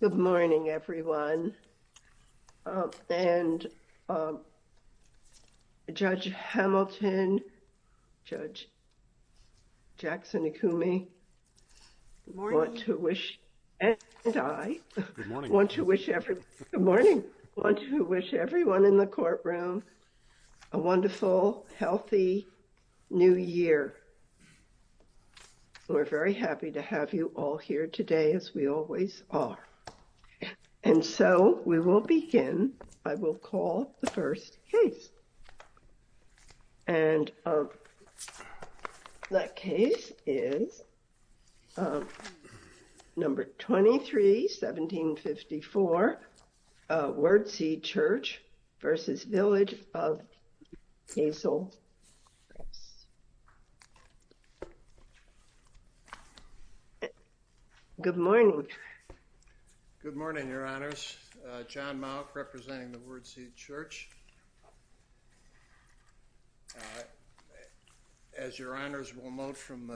Good morning, everyone, and Judge Hamilton, Judge Jackson-Ikumi, and I want to wish everyone in the courtroom a wonderful, healthy new year. We're very happy to have you all here today, as we always are. And so we will begin, I will call the first case, and that case is number 23, 1754, Word Seed Church v. Village of Hazel Crest. Good morning. Good morning, Your Honors. John Mauck, representing the Word Seed Church. As Your Honors will note from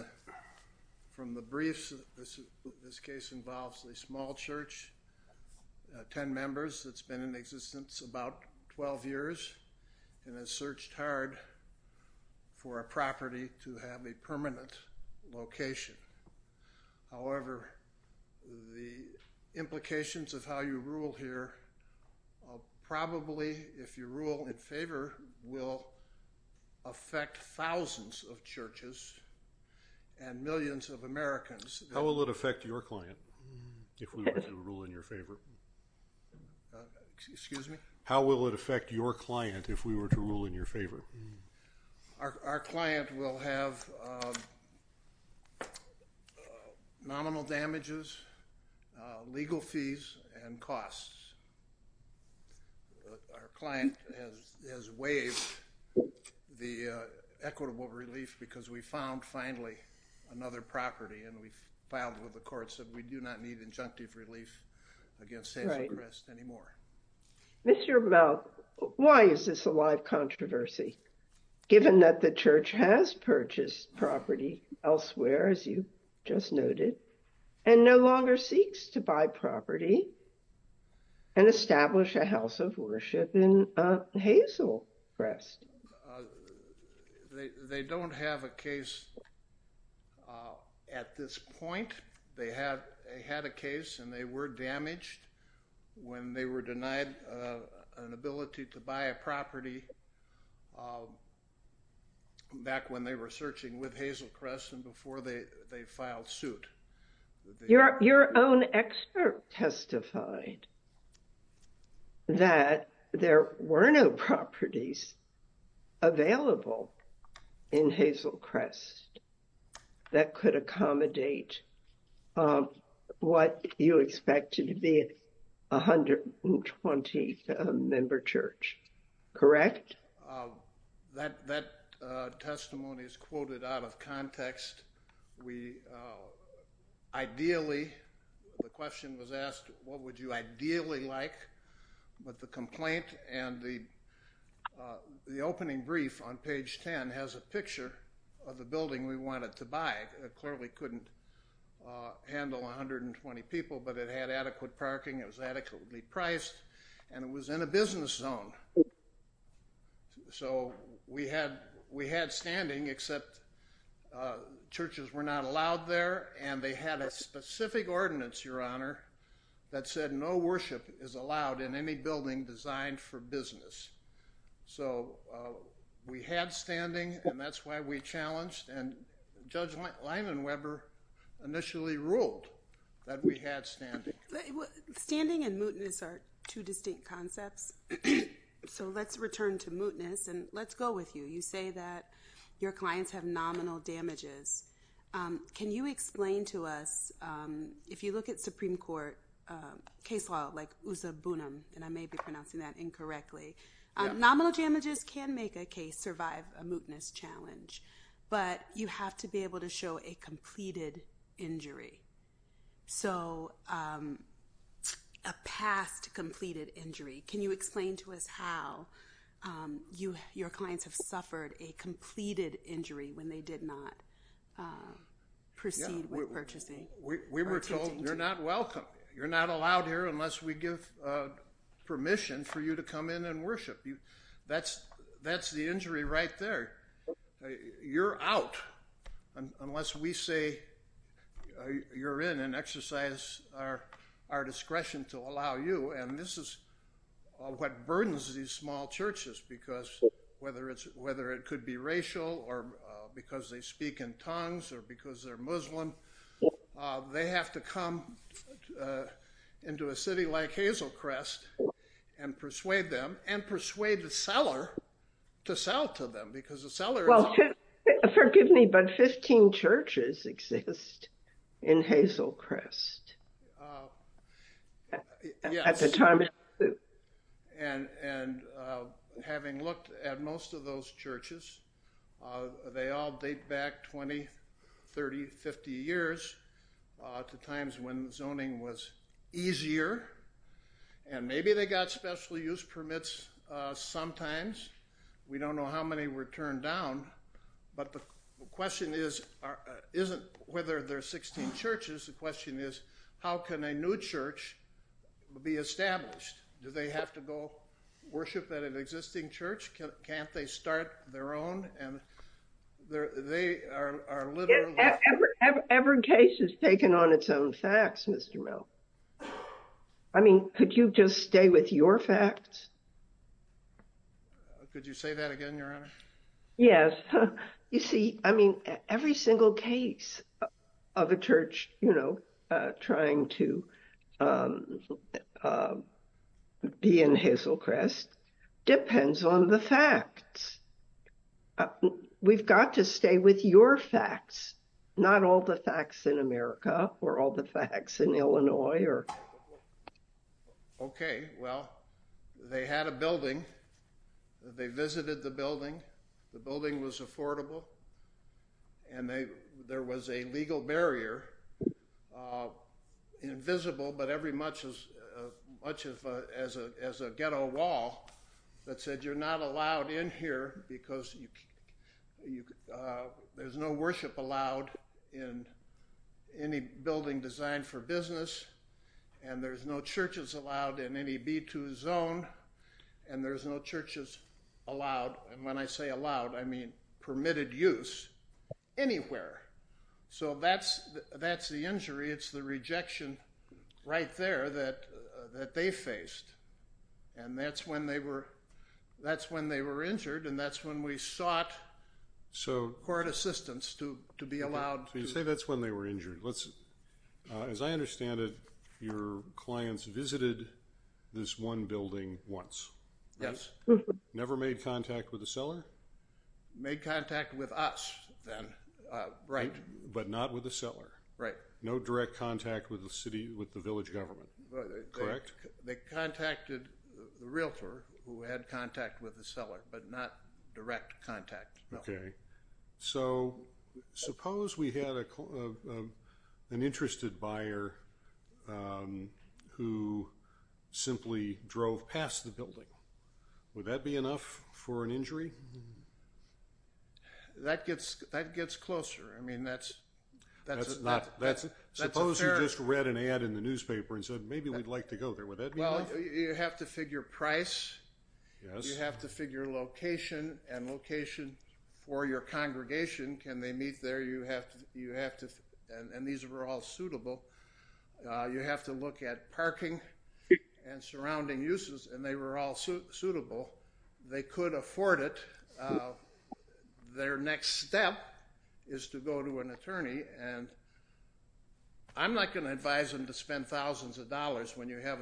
the briefs, this case involves a small church, 10 members, that's been in existence about 12 years, and has searched hard for a property to have a permanent location. However, the implications of how you rule here probably, if you rule in favor, will affect thousands of churches and millions of Americans. How will it affect your client, if we were to rule in your favor? Excuse me? How will it affect your client, if we were to rule in your favor? Our client will have nominal damages, legal fees, and costs. Our client has waived the equitable relief because we found, finally, another property, and we filed with the courts that we do not need injunctive relief against Hazel Crest anymore. Mr. Mauck, why is this a live controversy, given that the church has purchased property elsewhere, as you just noted, and no longer seeks to buy property and establish a house of worship in Hazel Crest? They don't have a case at this point. They had a case, and they were damaged when they were denied an ability to buy a property back when they were searching with Hazel Crest and before they filed suit. Your own excerpt testified that there were no properties available in Hazel Crest that could accommodate what you expected to be a 120-member church. Correct? That testimony is quoted out of context. The question was asked, what would you ideally like? But the complaint and the opening brief on page 10 has a picture of the building we wanted to buy. It clearly couldn't handle 120 people, but it had adequate parking, it was adequately priced, and it was in a business zone. So we had standing, except churches were not allowed there, and they had a specific ordinance, Your Honor, that said no worship is allowed in any building designed for business. So we had standing, and that's why we challenged, and Judge Lyman Weber initially ruled that we had standing. Standing and mootness are two distinct concepts, so let's return to mootness, and let's go with you. You say that your clients have nominal damages. Can you explain to us, if you look at Supreme Court case law, like Usa Bunim, and I may be pronouncing that incorrectly, nominal damages can make a case survive a mootness challenge, but you have to be able to show a completed injury. So a past completed injury. Can you explain to us how your clients have suffered a completed injury when they did not proceed with purchasing? We were told, you're not welcome. You're not allowed here unless we give permission for you to come in and worship. That's the injury right there. You're out unless we say you're in and exercise our discretion to allow you, and this is what burdens these small churches, because whether it could be racial, or because they speak in tongues, or because they're Muslim, they have to come into a city like Hazelcrest and persuade them, and persuade the seller to sell to them, because the seller... Well, forgive me, but 15 churches exist in Hazelcrest at the time of the moot. And having looked at most of those churches, they all date back 20, 30, 50 years to times when zoning was easier, and maybe they got special use permits sometimes. We don't know how many were turned down, but the question isn't whether there are 16 churches. The question is, how can a new church be established? Do they have to go worship at an existing church? Can't they start their own? Every case is taken on its own facts, Mr. Mell. I mean, could you just stay with your facts? Could you say that again, Your Honor? Yes. You see, I mean, every single case of a church, you know, trying to be in Hazelcrest depends on the facts. We've got to stay with your facts, not all the facts in America, or all the facts in Illinois, or... Okay, well, they had a building, they visited the building, the building was affordable, and there was a legal barrier, invisible but every much as a ghetto wall, that said you're not allowed in here because there's no worship allowed in any building designed for business, and there's no churches allowed in any B2 zone, and there's no churches allowed, and when I say allowed, I mean permitted use, anywhere. So that's the injury, it's the rejection right there that they faced, and that's when they were injured, and that's when we sought court assistance to be allowed to... As I understand it, your clients visited this one building once. Yes. Never made contact with the seller? Made contact with us, then. Right, but not with the seller. Right. No direct contact with the city, with the village government, correct? They contacted the realtor, who had contact with the seller, but not direct contact. Okay, so suppose we had an interested buyer who simply drove past the building, would that be enough for an injury? That gets closer, I mean that's... That's not... That's a fair... Suppose you just read an ad in the newspaper and said, maybe we'd like to go there, would that be enough? You have to figure price, you have to figure location, and location for your congregation, can they meet there, you have to... And these were all suitable. You have to look at parking and surrounding uses, and they were all suitable. They could afford it. Their next step is to go to an attorney, and I'm not going to advise them to spend thousands of dollars when you have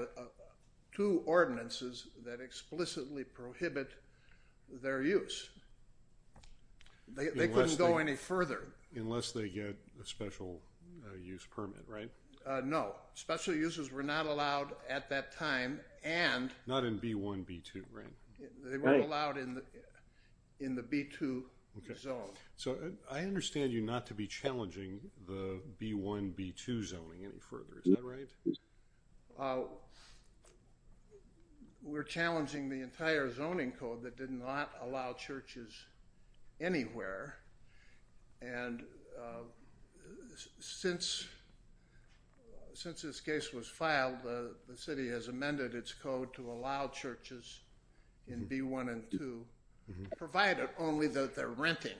two ordinances that explicitly prohibit their use. They couldn't go any further. Unless they get a special use permit, right? No, special uses were not allowed at that time, and... Not in B1, B2, right? They weren't allowed in the B2 zone. So, I understand you not to be challenging the B1, B2 zoning any further, is that right? We're challenging the entire zoning code that did not allow churches anywhere, and since this case was filed, the city has amended its code to allow churches in B1 and B2, provided only that they're renting,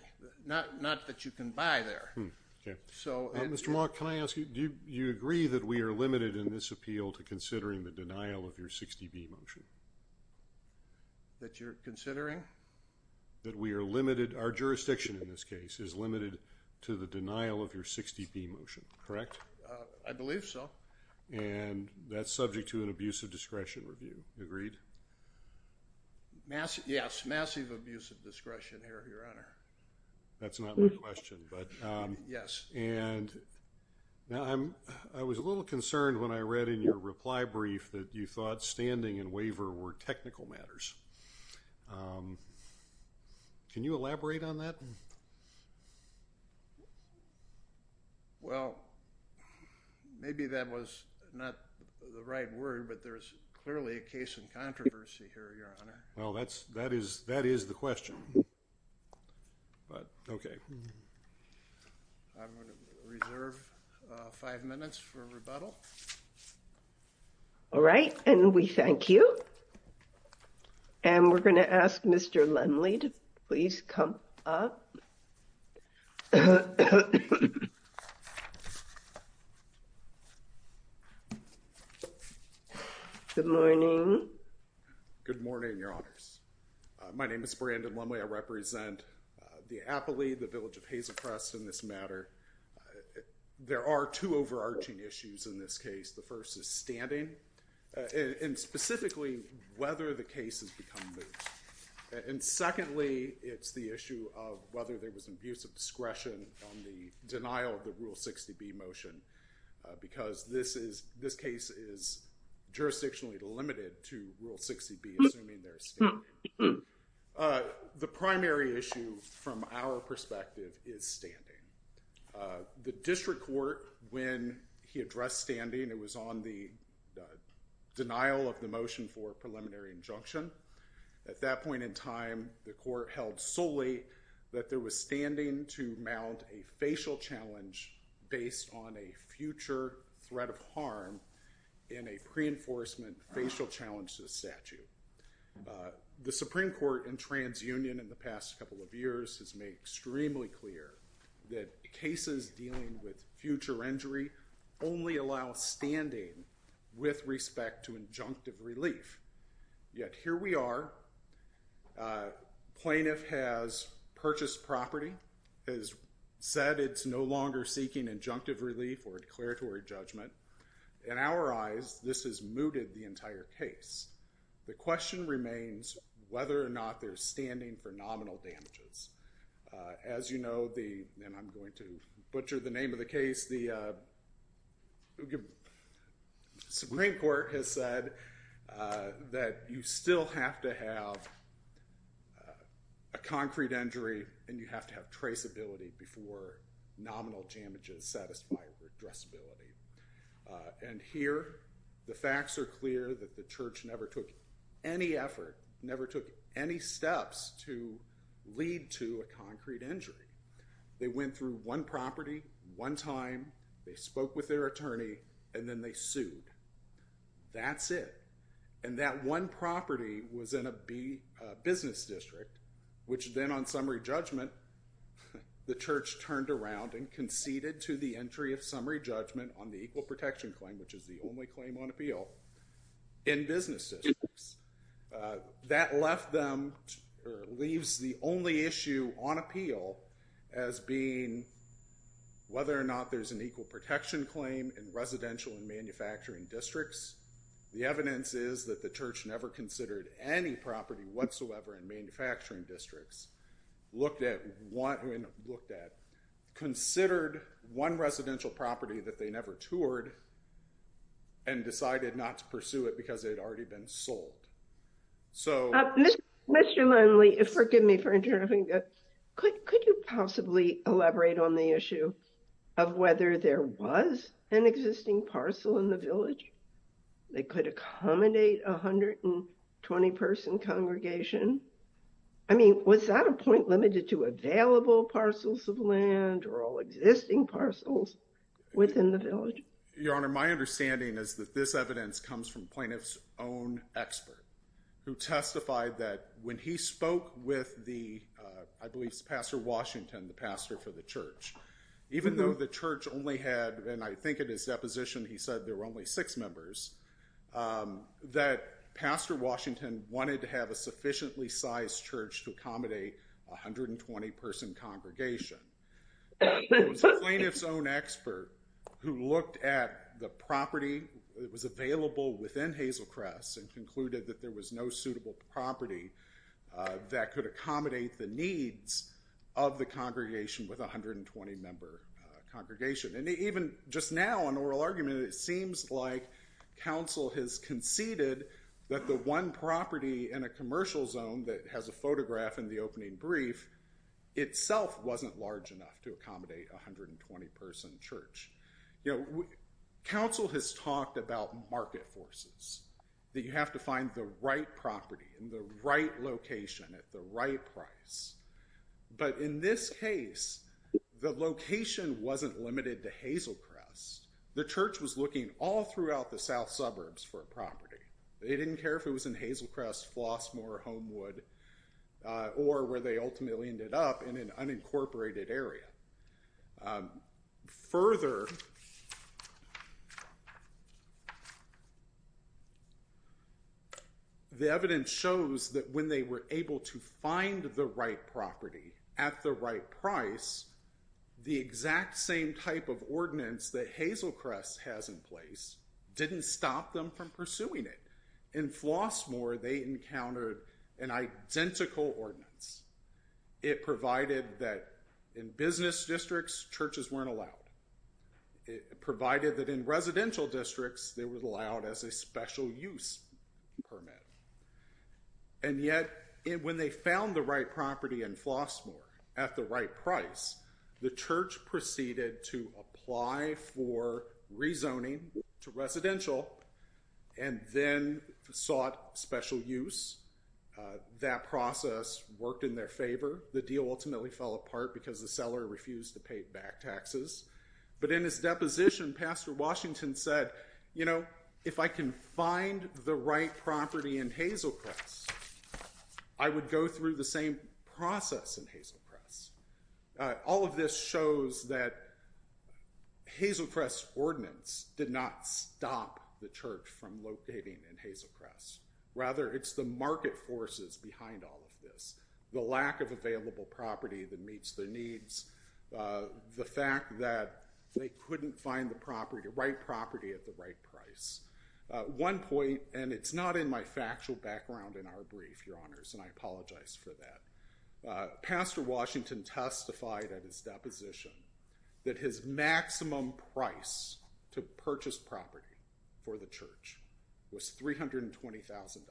not that you can buy there. Okay. So... Mr. Mauck, can I ask you, do you agree that we are limited in this appeal to considering the denial of your 60B motion? That you're considering? That we are limited, our jurisdiction in this case, is limited to the denial of your 60B motion, correct? I believe so. And that's subject to an abuse of discretion review, agreed? Yes, massive abuse of discretion, Your Honor. That's not my question, but... Yes. And... I was a little concerned when I read in your reply brief that you thought standing and waiver were technical matters. Can you elaborate on that? Well, maybe that was not the right word, but there's clearly a case in controversy here, Your Honor. Well, that is the question. But, okay. I'm going to reserve five minutes for rebuttal. All right, and we thank you. And we're going to ask Mr. Lemley to please come up. Good morning. Good morning, Your Honors. My name is Brandon Lemley. I represent the Appley, the Village of Hazelcrest in this matter. There are two overarching issues in this case. The first is standing. And specifically, whether the case has become moot. And secondly, it's the issue of whether there was abuse of discretion on the denial of the Rule 60B motion. Because this case is jurisdictionally limited to Rule 60B, assuming there is standing. The primary issue from our perspective is standing. The district court, when he addressed standing, it was on the denial of the motion for a preliminary injunction. At that point in time, the court held solely that there was standing to mount a facial challenge based on a future threat of harm in a pre-enforcement facial challenge to the statute. The Supreme Court in TransUnion in the past couple of years has made extremely clear that cases dealing with future injury only allow standing with respect to injunctive relief. Yet here we are. Plaintiff has purchased property, has said it's no longer seeking injunctive relief or declaratory judgment. In our eyes, this has mooted the entire case. The question remains whether or not there's standing for nominal damages. As you know, and I'm going to butcher the name of the case, the Supreme Court has said that you still have to have a concrete injury and you have to have traceability before nominal damages satisfy redressability. And here, the facts are clear that the church never took any effort, never took any steps to lead to a concrete injury. They went through one property, one time, they spoke with their attorney, and then they sued. That's it. And that one property was in a business district, which then on summary judgment, the church turned around and conceded to the entry of summary judgment on the equal protection claim, which is the only claim on appeal in business districts. That left them, or leaves the only issue on appeal as being whether or not there's an equal protection claim in residential and manufacturing districts. The evidence is that the church never considered any property whatsoever in manufacturing districts, looked at, considered one residential property that they never toured and decided not to pursue it because it had already been sold. Mr. Lindley, forgive me for interrupting, but could you possibly elaborate on the issue of whether there was an existing parcel in the village that could accommodate 120 person congregation? I mean, was that a point limited to available parcels of land or all existing parcels within the village? Your Honor, my understanding is that this evidence comes from plaintiff's own expert who testified that when he spoke with the, I believe it's Pastor Washington, the pastor for the church. Even though the church only had, and I think in his deposition he said there were only six members, that Pastor Washington wanted to have a sufficiently sized church to accommodate 120 person congregation. It was the plaintiff's own expert who looked at the property that was available within Hazelcrest and concluded that there was no suitable property that could accommodate the needs of the congregation with 120 member congregation. And even just now in oral argument, it seems like counsel has conceded that the one property in a commercial zone that has a photograph in the opening brief itself wasn't large enough to accommodate 120 person church. Counsel has talked about market forces, that you have to find the right property in the right location at the right price, but in this case, the location wasn't limited to Hazelcrest. The church was looking all throughout the south suburbs for a property. They didn't care if it was in Hazelcrest, Flossmoor, Homewood, or where they ultimately ended up in an unincorporated area. Further, the evidence shows that when they were able to find the right property at the right price, the exact same type of ordinance that Hazelcrest has in place didn't stop them from pursuing it. In Flossmoor, they encountered an identical ordinance. It provided that in business districts, churches weren't allowed. It provided that in residential districts, they were allowed as a special use permit. And yet, when they found the right property in Flossmoor at the right price, the church proceeded to apply for rezoning to residential and then sought special use. That process worked in their favor. The deal ultimately fell apart because the seller refused to pay back taxes. But in his deposition, Pastor Washington said, you know, if I can find the right property in Hazelcrest, I would go through the same process in Hazelcrest. All of this shows that Hazelcrest's ordinance did not stop the church from locating in Hazelcrest. Rather, it's the market forces behind all of this. The lack of available property that meets their needs, the fact that they couldn't find the right property at the right price. One point, and it's not in my factual background in our brief, Your Honors, and I apologize for that. Pastor Washington testified at his deposition that his maximum price to purchase property for the church was $320,000.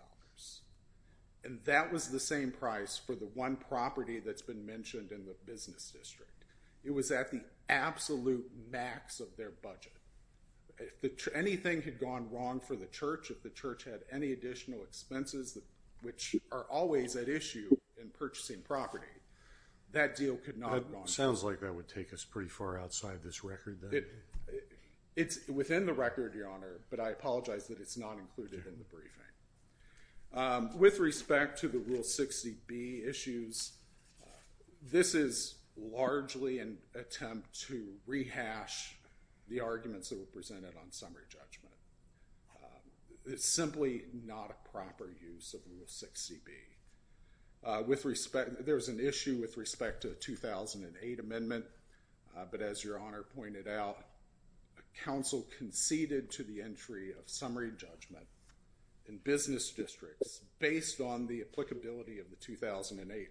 And that was the same price for the one property that's been mentioned in the business district. It was at the absolute max of their budget. If anything had gone wrong for the church, if the church had any additional expenses, which are always at issue in purchasing property, that deal could not have gone wrong. It sounds like that would take us pretty far outside this record then. It's within the record, Your Honor, but I apologize that it's not included in the briefing. With respect to the Rule 60B issues, this is largely an attempt to rehash the arguments that were presented on summary judgment. It's simply not a proper use of Rule 60B. There was an issue with respect to the 2008 amendment, but as Your Honor pointed out, counsel conceded to the entry of summary judgment in business districts based on the applicability of the 2008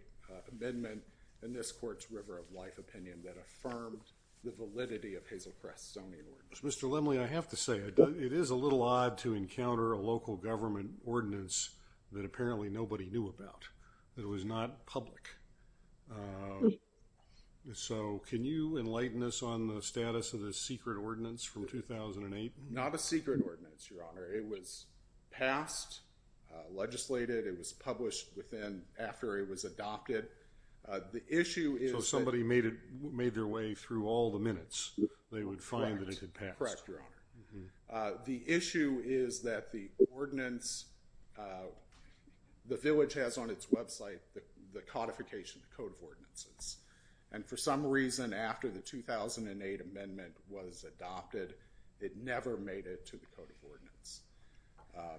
amendment in this Court's River of Life opinion that affirmed the validity of Hazel Crest's zoning ordinance. Mr. Limley, I have to say, it is a little odd to encounter a local government ordinance that apparently nobody knew about, that was not public. So can you enlighten us on the status of the secret ordinance from 2008? Not a secret ordinance, Your Honor. It was passed, legislated, it was published after it was adopted. So somebody made their way through all the minutes, they would find that it had passed. Correct, Your Honor. The issue is that the ordinance, the village has on its website the codification code of ordinances. And for some reason, after the 2008 amendment was adopted, it never made it to the code of ordinance.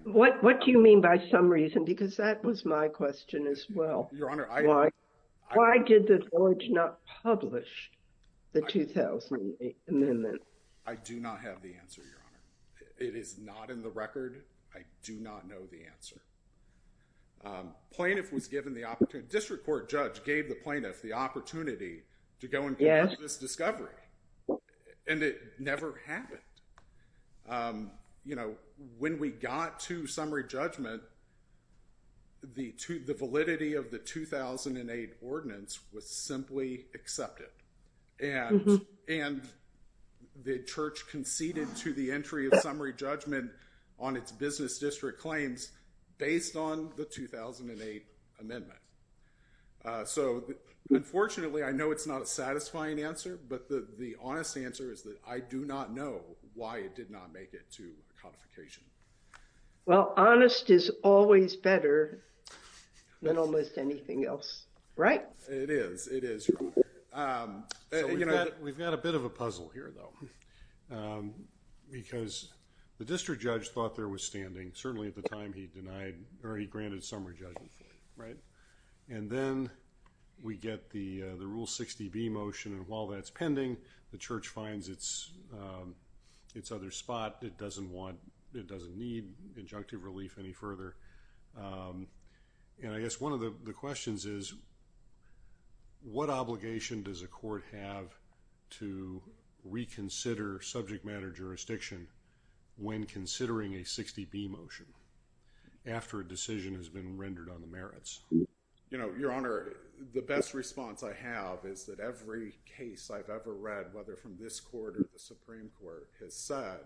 What do you mean by some reason? Because that was my question as well. Why did the village not publish the 2008 amendment? I do not have the answer, Your Honor. It is not in the record. I do not know the answer. Plaintiff was given the opportunity, district court judge gave the plaintiff the opportunity to go and pass this discovery. And it never happened. You know, when we got to summary judgment, the validity of the 2008 ordinance was simply accepted. And the church conceded to the entry of summary judgment on its business district claims based on the 2008 amendment. So unfortunately, I know it's not a satisfying answer. But the honest answer is that I do not know why it did not make it to codification. Well, honest is always better than almost anything else, right? It is, it is, Your Honor. We've got a bit of a puzzle here, though. Because the district judge thought there was standing, certainly at the time he denied, or he granted summary judgment, right? And then we get the Rule 60B motion, and while that's pending, the church finds its other spot. It doesn't want, it doesn't need injunctive relief any further. And I guess one of the questions is, what obligation does a court have to reconsider subject matter jurisdiction when considering a 60B motion? After a decision has been rendered on the merits? You know, Your Honor, the best response I have is that every case I've ever read, whether from this court or the Supreme Court, has said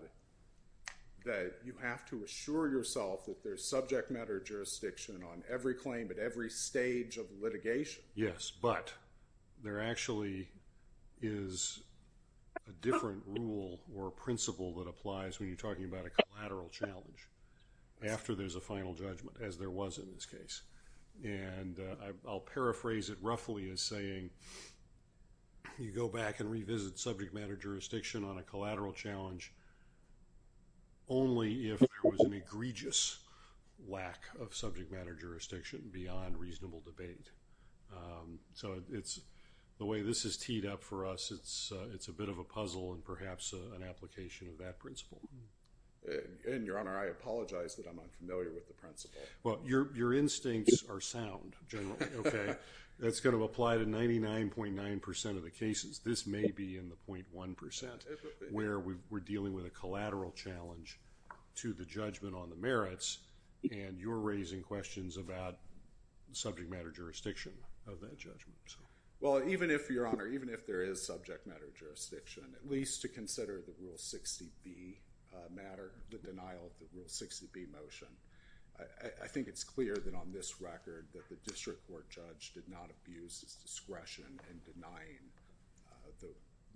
that you have to assure yourself that there's subject matter jurisdiction on every claim at every stage of litigation. Yes, but there actually is a different rule or principle that applies when you're talking about a collateral challenge. After there's a final judgment, as there was in this case. And I'll paraphrase it roughly as saying, you go back and revisit subject matter jurisdiction on a collateral challenge only if there was an egregious lack of subject matter jurisdiction beyond reasonable debate. So it's, the way this is teed up for us, it's a bit of a puzzle and perhaps an application of that principle. And Your Honor, I apologize that I'm unfamiliar with the principle. Well, your instincts are sound, generally. That's going to apply to 99.9% of the cases. This may be in the 0.1% where we're dealing with a collateral challenge to the judgment on the merits. And you're raising questions about subject matter jurisdiction of that judgment. Well, even if, Your Honor, even if there is subject matter jurisdiction, at least to consider the Rule 60B matter, the denial of the Rule 60B motion. I think it's clear that on this record that the district court judge did not abuse his discretion in denying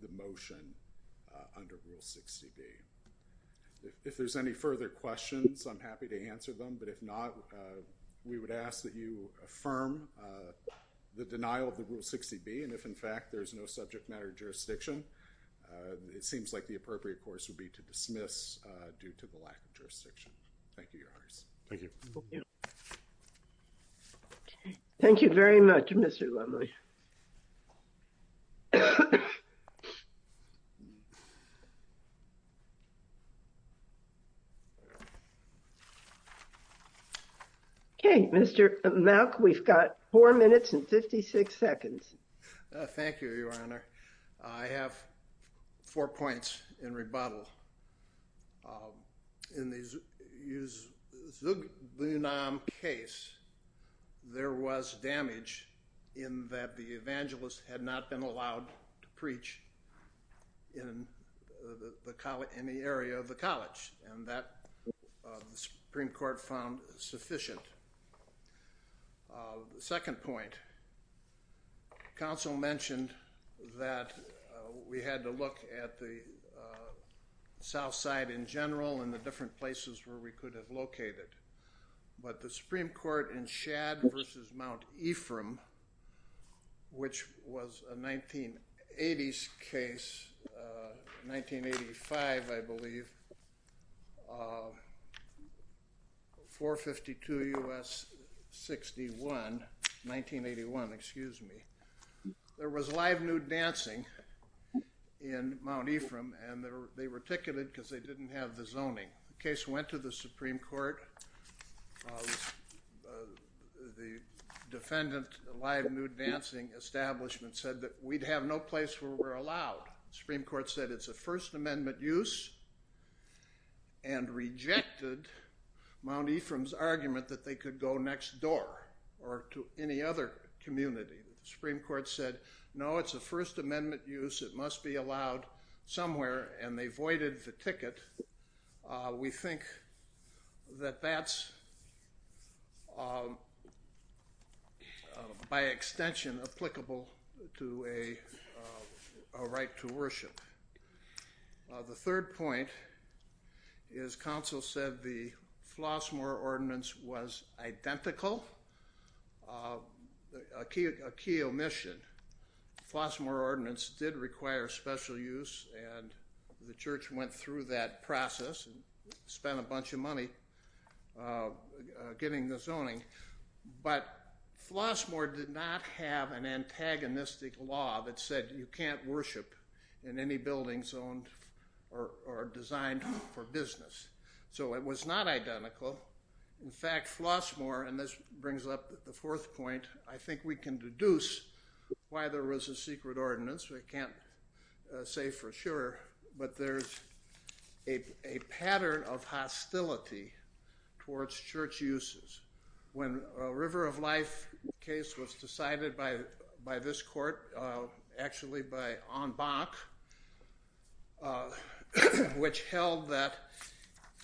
the motion under Rule 60B. If there's any further questions, I'm happy to answer them. But if not, we would ask that you affirm the denial of the Rule 60B. And if in fact there's no subject matter jurisdiction, it seems like the appropriate course would be to dismiss due to the lack of jurisdiction. Thank you, Your Honor. Thank you very much, Mr. Lumley. Okay, Mr. Malk, we've got four minutes and 56 seconds. Thank you, Your Honor. I have four points in rebuttal. In the Zug-Lunam case, there was damage in that the evangelist had not been allowed to preach in the area of the college and that the Supreme Court found sufficient. The second point, counsel mentioned that we had to look at the south side in general and the different places where we could have located. But the Supreme Court in Shad versus Mount Ephraim, which was a 1980s case, 1985, I believe, 452 U.S. 61, 1981, excuse me. There was live nude dancing in Mount Ephraim and they were ticketed because they didn't have the zoning. The case went to the Supreme Court. The defendant, a live nude dancing establishment, said that we'd have no place where we're allowed. The Supreme Court said it's a First Amendment use. And rejected Mount Ephraim's argument that they could go next door or to any other community. The Supreme Court said, no, it's a First Amendment use. It must be allowed somewhere. And they voided the ticket. We think that that's, by extension, applicable to a right to worship. The third point is counsel said the Flossmoor Ordinance was identical. A key omission. Flossmoor Ordinance did require special use and the church went through that process and spent a bunch of money getting the zoning. But Flossmoor did not have an antagonistic law that said you can't worship in any buildings owned or designed for business. So it was not identical. In fact, Flossmoor, and this brings up the fourth point, I think we can deduce why there was a secret ordinance. We can't say for sure. But there's a pattern of hostility towards church uses. When a River of Life case was decided by this court, actually by Ahn Bach, which held that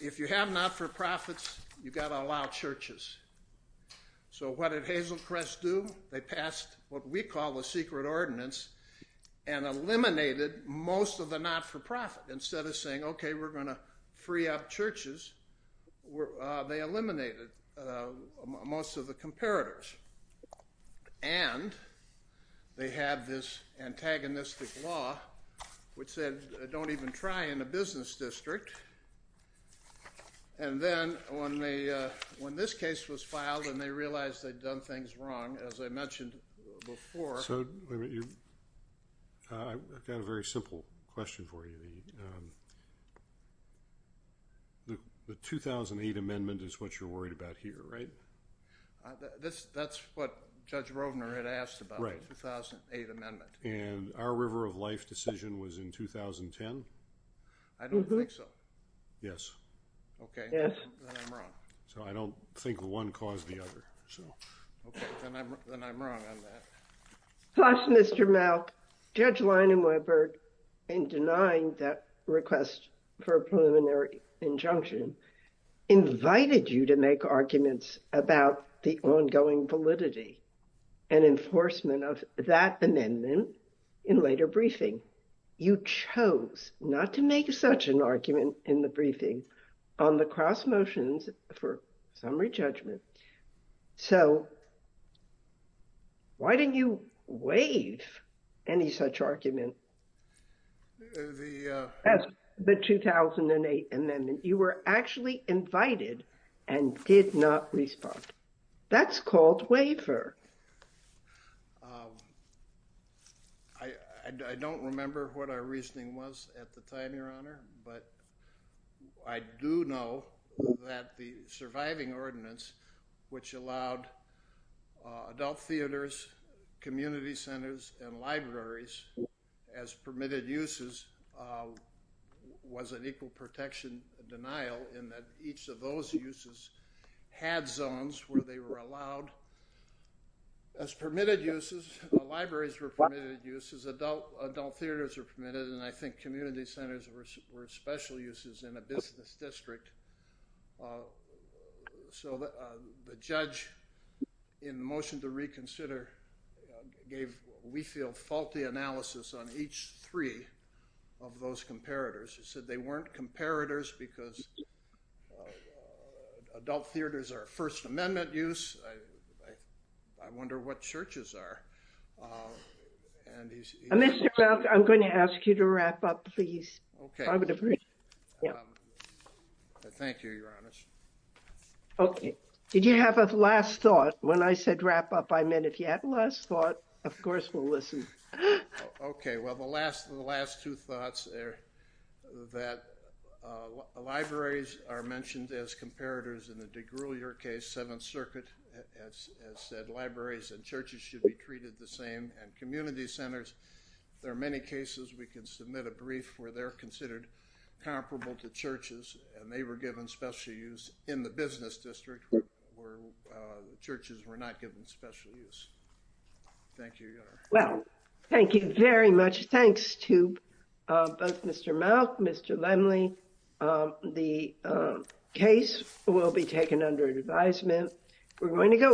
if you have not-for-profits, you've got to allow churches. So what did Hazelcrest do? They passed what we call the secret ordinance and eliminated most of the not-for-profit. Instead of saying, okay, we're going to free up churches, they eliminated most of the comparators. And they had this antagonistic law which said don't even try in a business district. And then when this case was filed and they realized they'd done things wrong, as I mentioned before. So I've got a very simple question for you. The 2008 amendment is what you're worried about here, right? That's what Judge Rovner had asked about the 2008 amendment. And our River of Life decision was in 2010? I don't think so. Yes. Okay. Then I'm wrong. So I don't think one caused the other. Okay. Then I'm wrong on that. Mr. Malk, Judge Leinenweber, in denying that request for a preliminary injunction, invited you to make arguments about the ongoing validity and enforcement of that amendment in later briefing. You chose not to make such an argument in the briefing on the cross motions for summary judgment. So why didn't you waive any such argument? The... The 2008 amendment. You were actually invited and did not respond. That's called waiver. I don't remember what our reasoning was at the time, Your Honor, but I do know that the surviving ordinance, which allowed adult theaters, community centers, and libraries as permitted uses, was an equal protection denial in that each of those uses had zones where they were allowed as permitted uses, libraries were permitted uses, adult theaters were permitted, and I think community centers were special uses in a business district. So the judge in motion to reconsider gave what we feel faulty analysis on each three of those comparators. He said they weren't comparators because adult theaters are First Amendment use. I wonder what churches are. And he's... Mr. Welk, I'm going to ask you to wrap up, please. Okay. Thank you, Your Honor. Okay. Did you have a last thought? When I said wrap up, I meant if you had a last thought, of course we'll listen. Okay, well, the last two thoughts are that libraries are mentioned as comparators in the DeGruyer case, Seventh Circuit has said libraries and churches should be treated the same and community centers. There are many cases we can submit a brief where they're considered comparable to churches and they were given special use in the business district where churches were not given special use. Thank you, Your Honor. Well, thank you very much. Thanks to both Mr. Malk, Mr. Lemley. The case will be taken under advisement. We're going to go.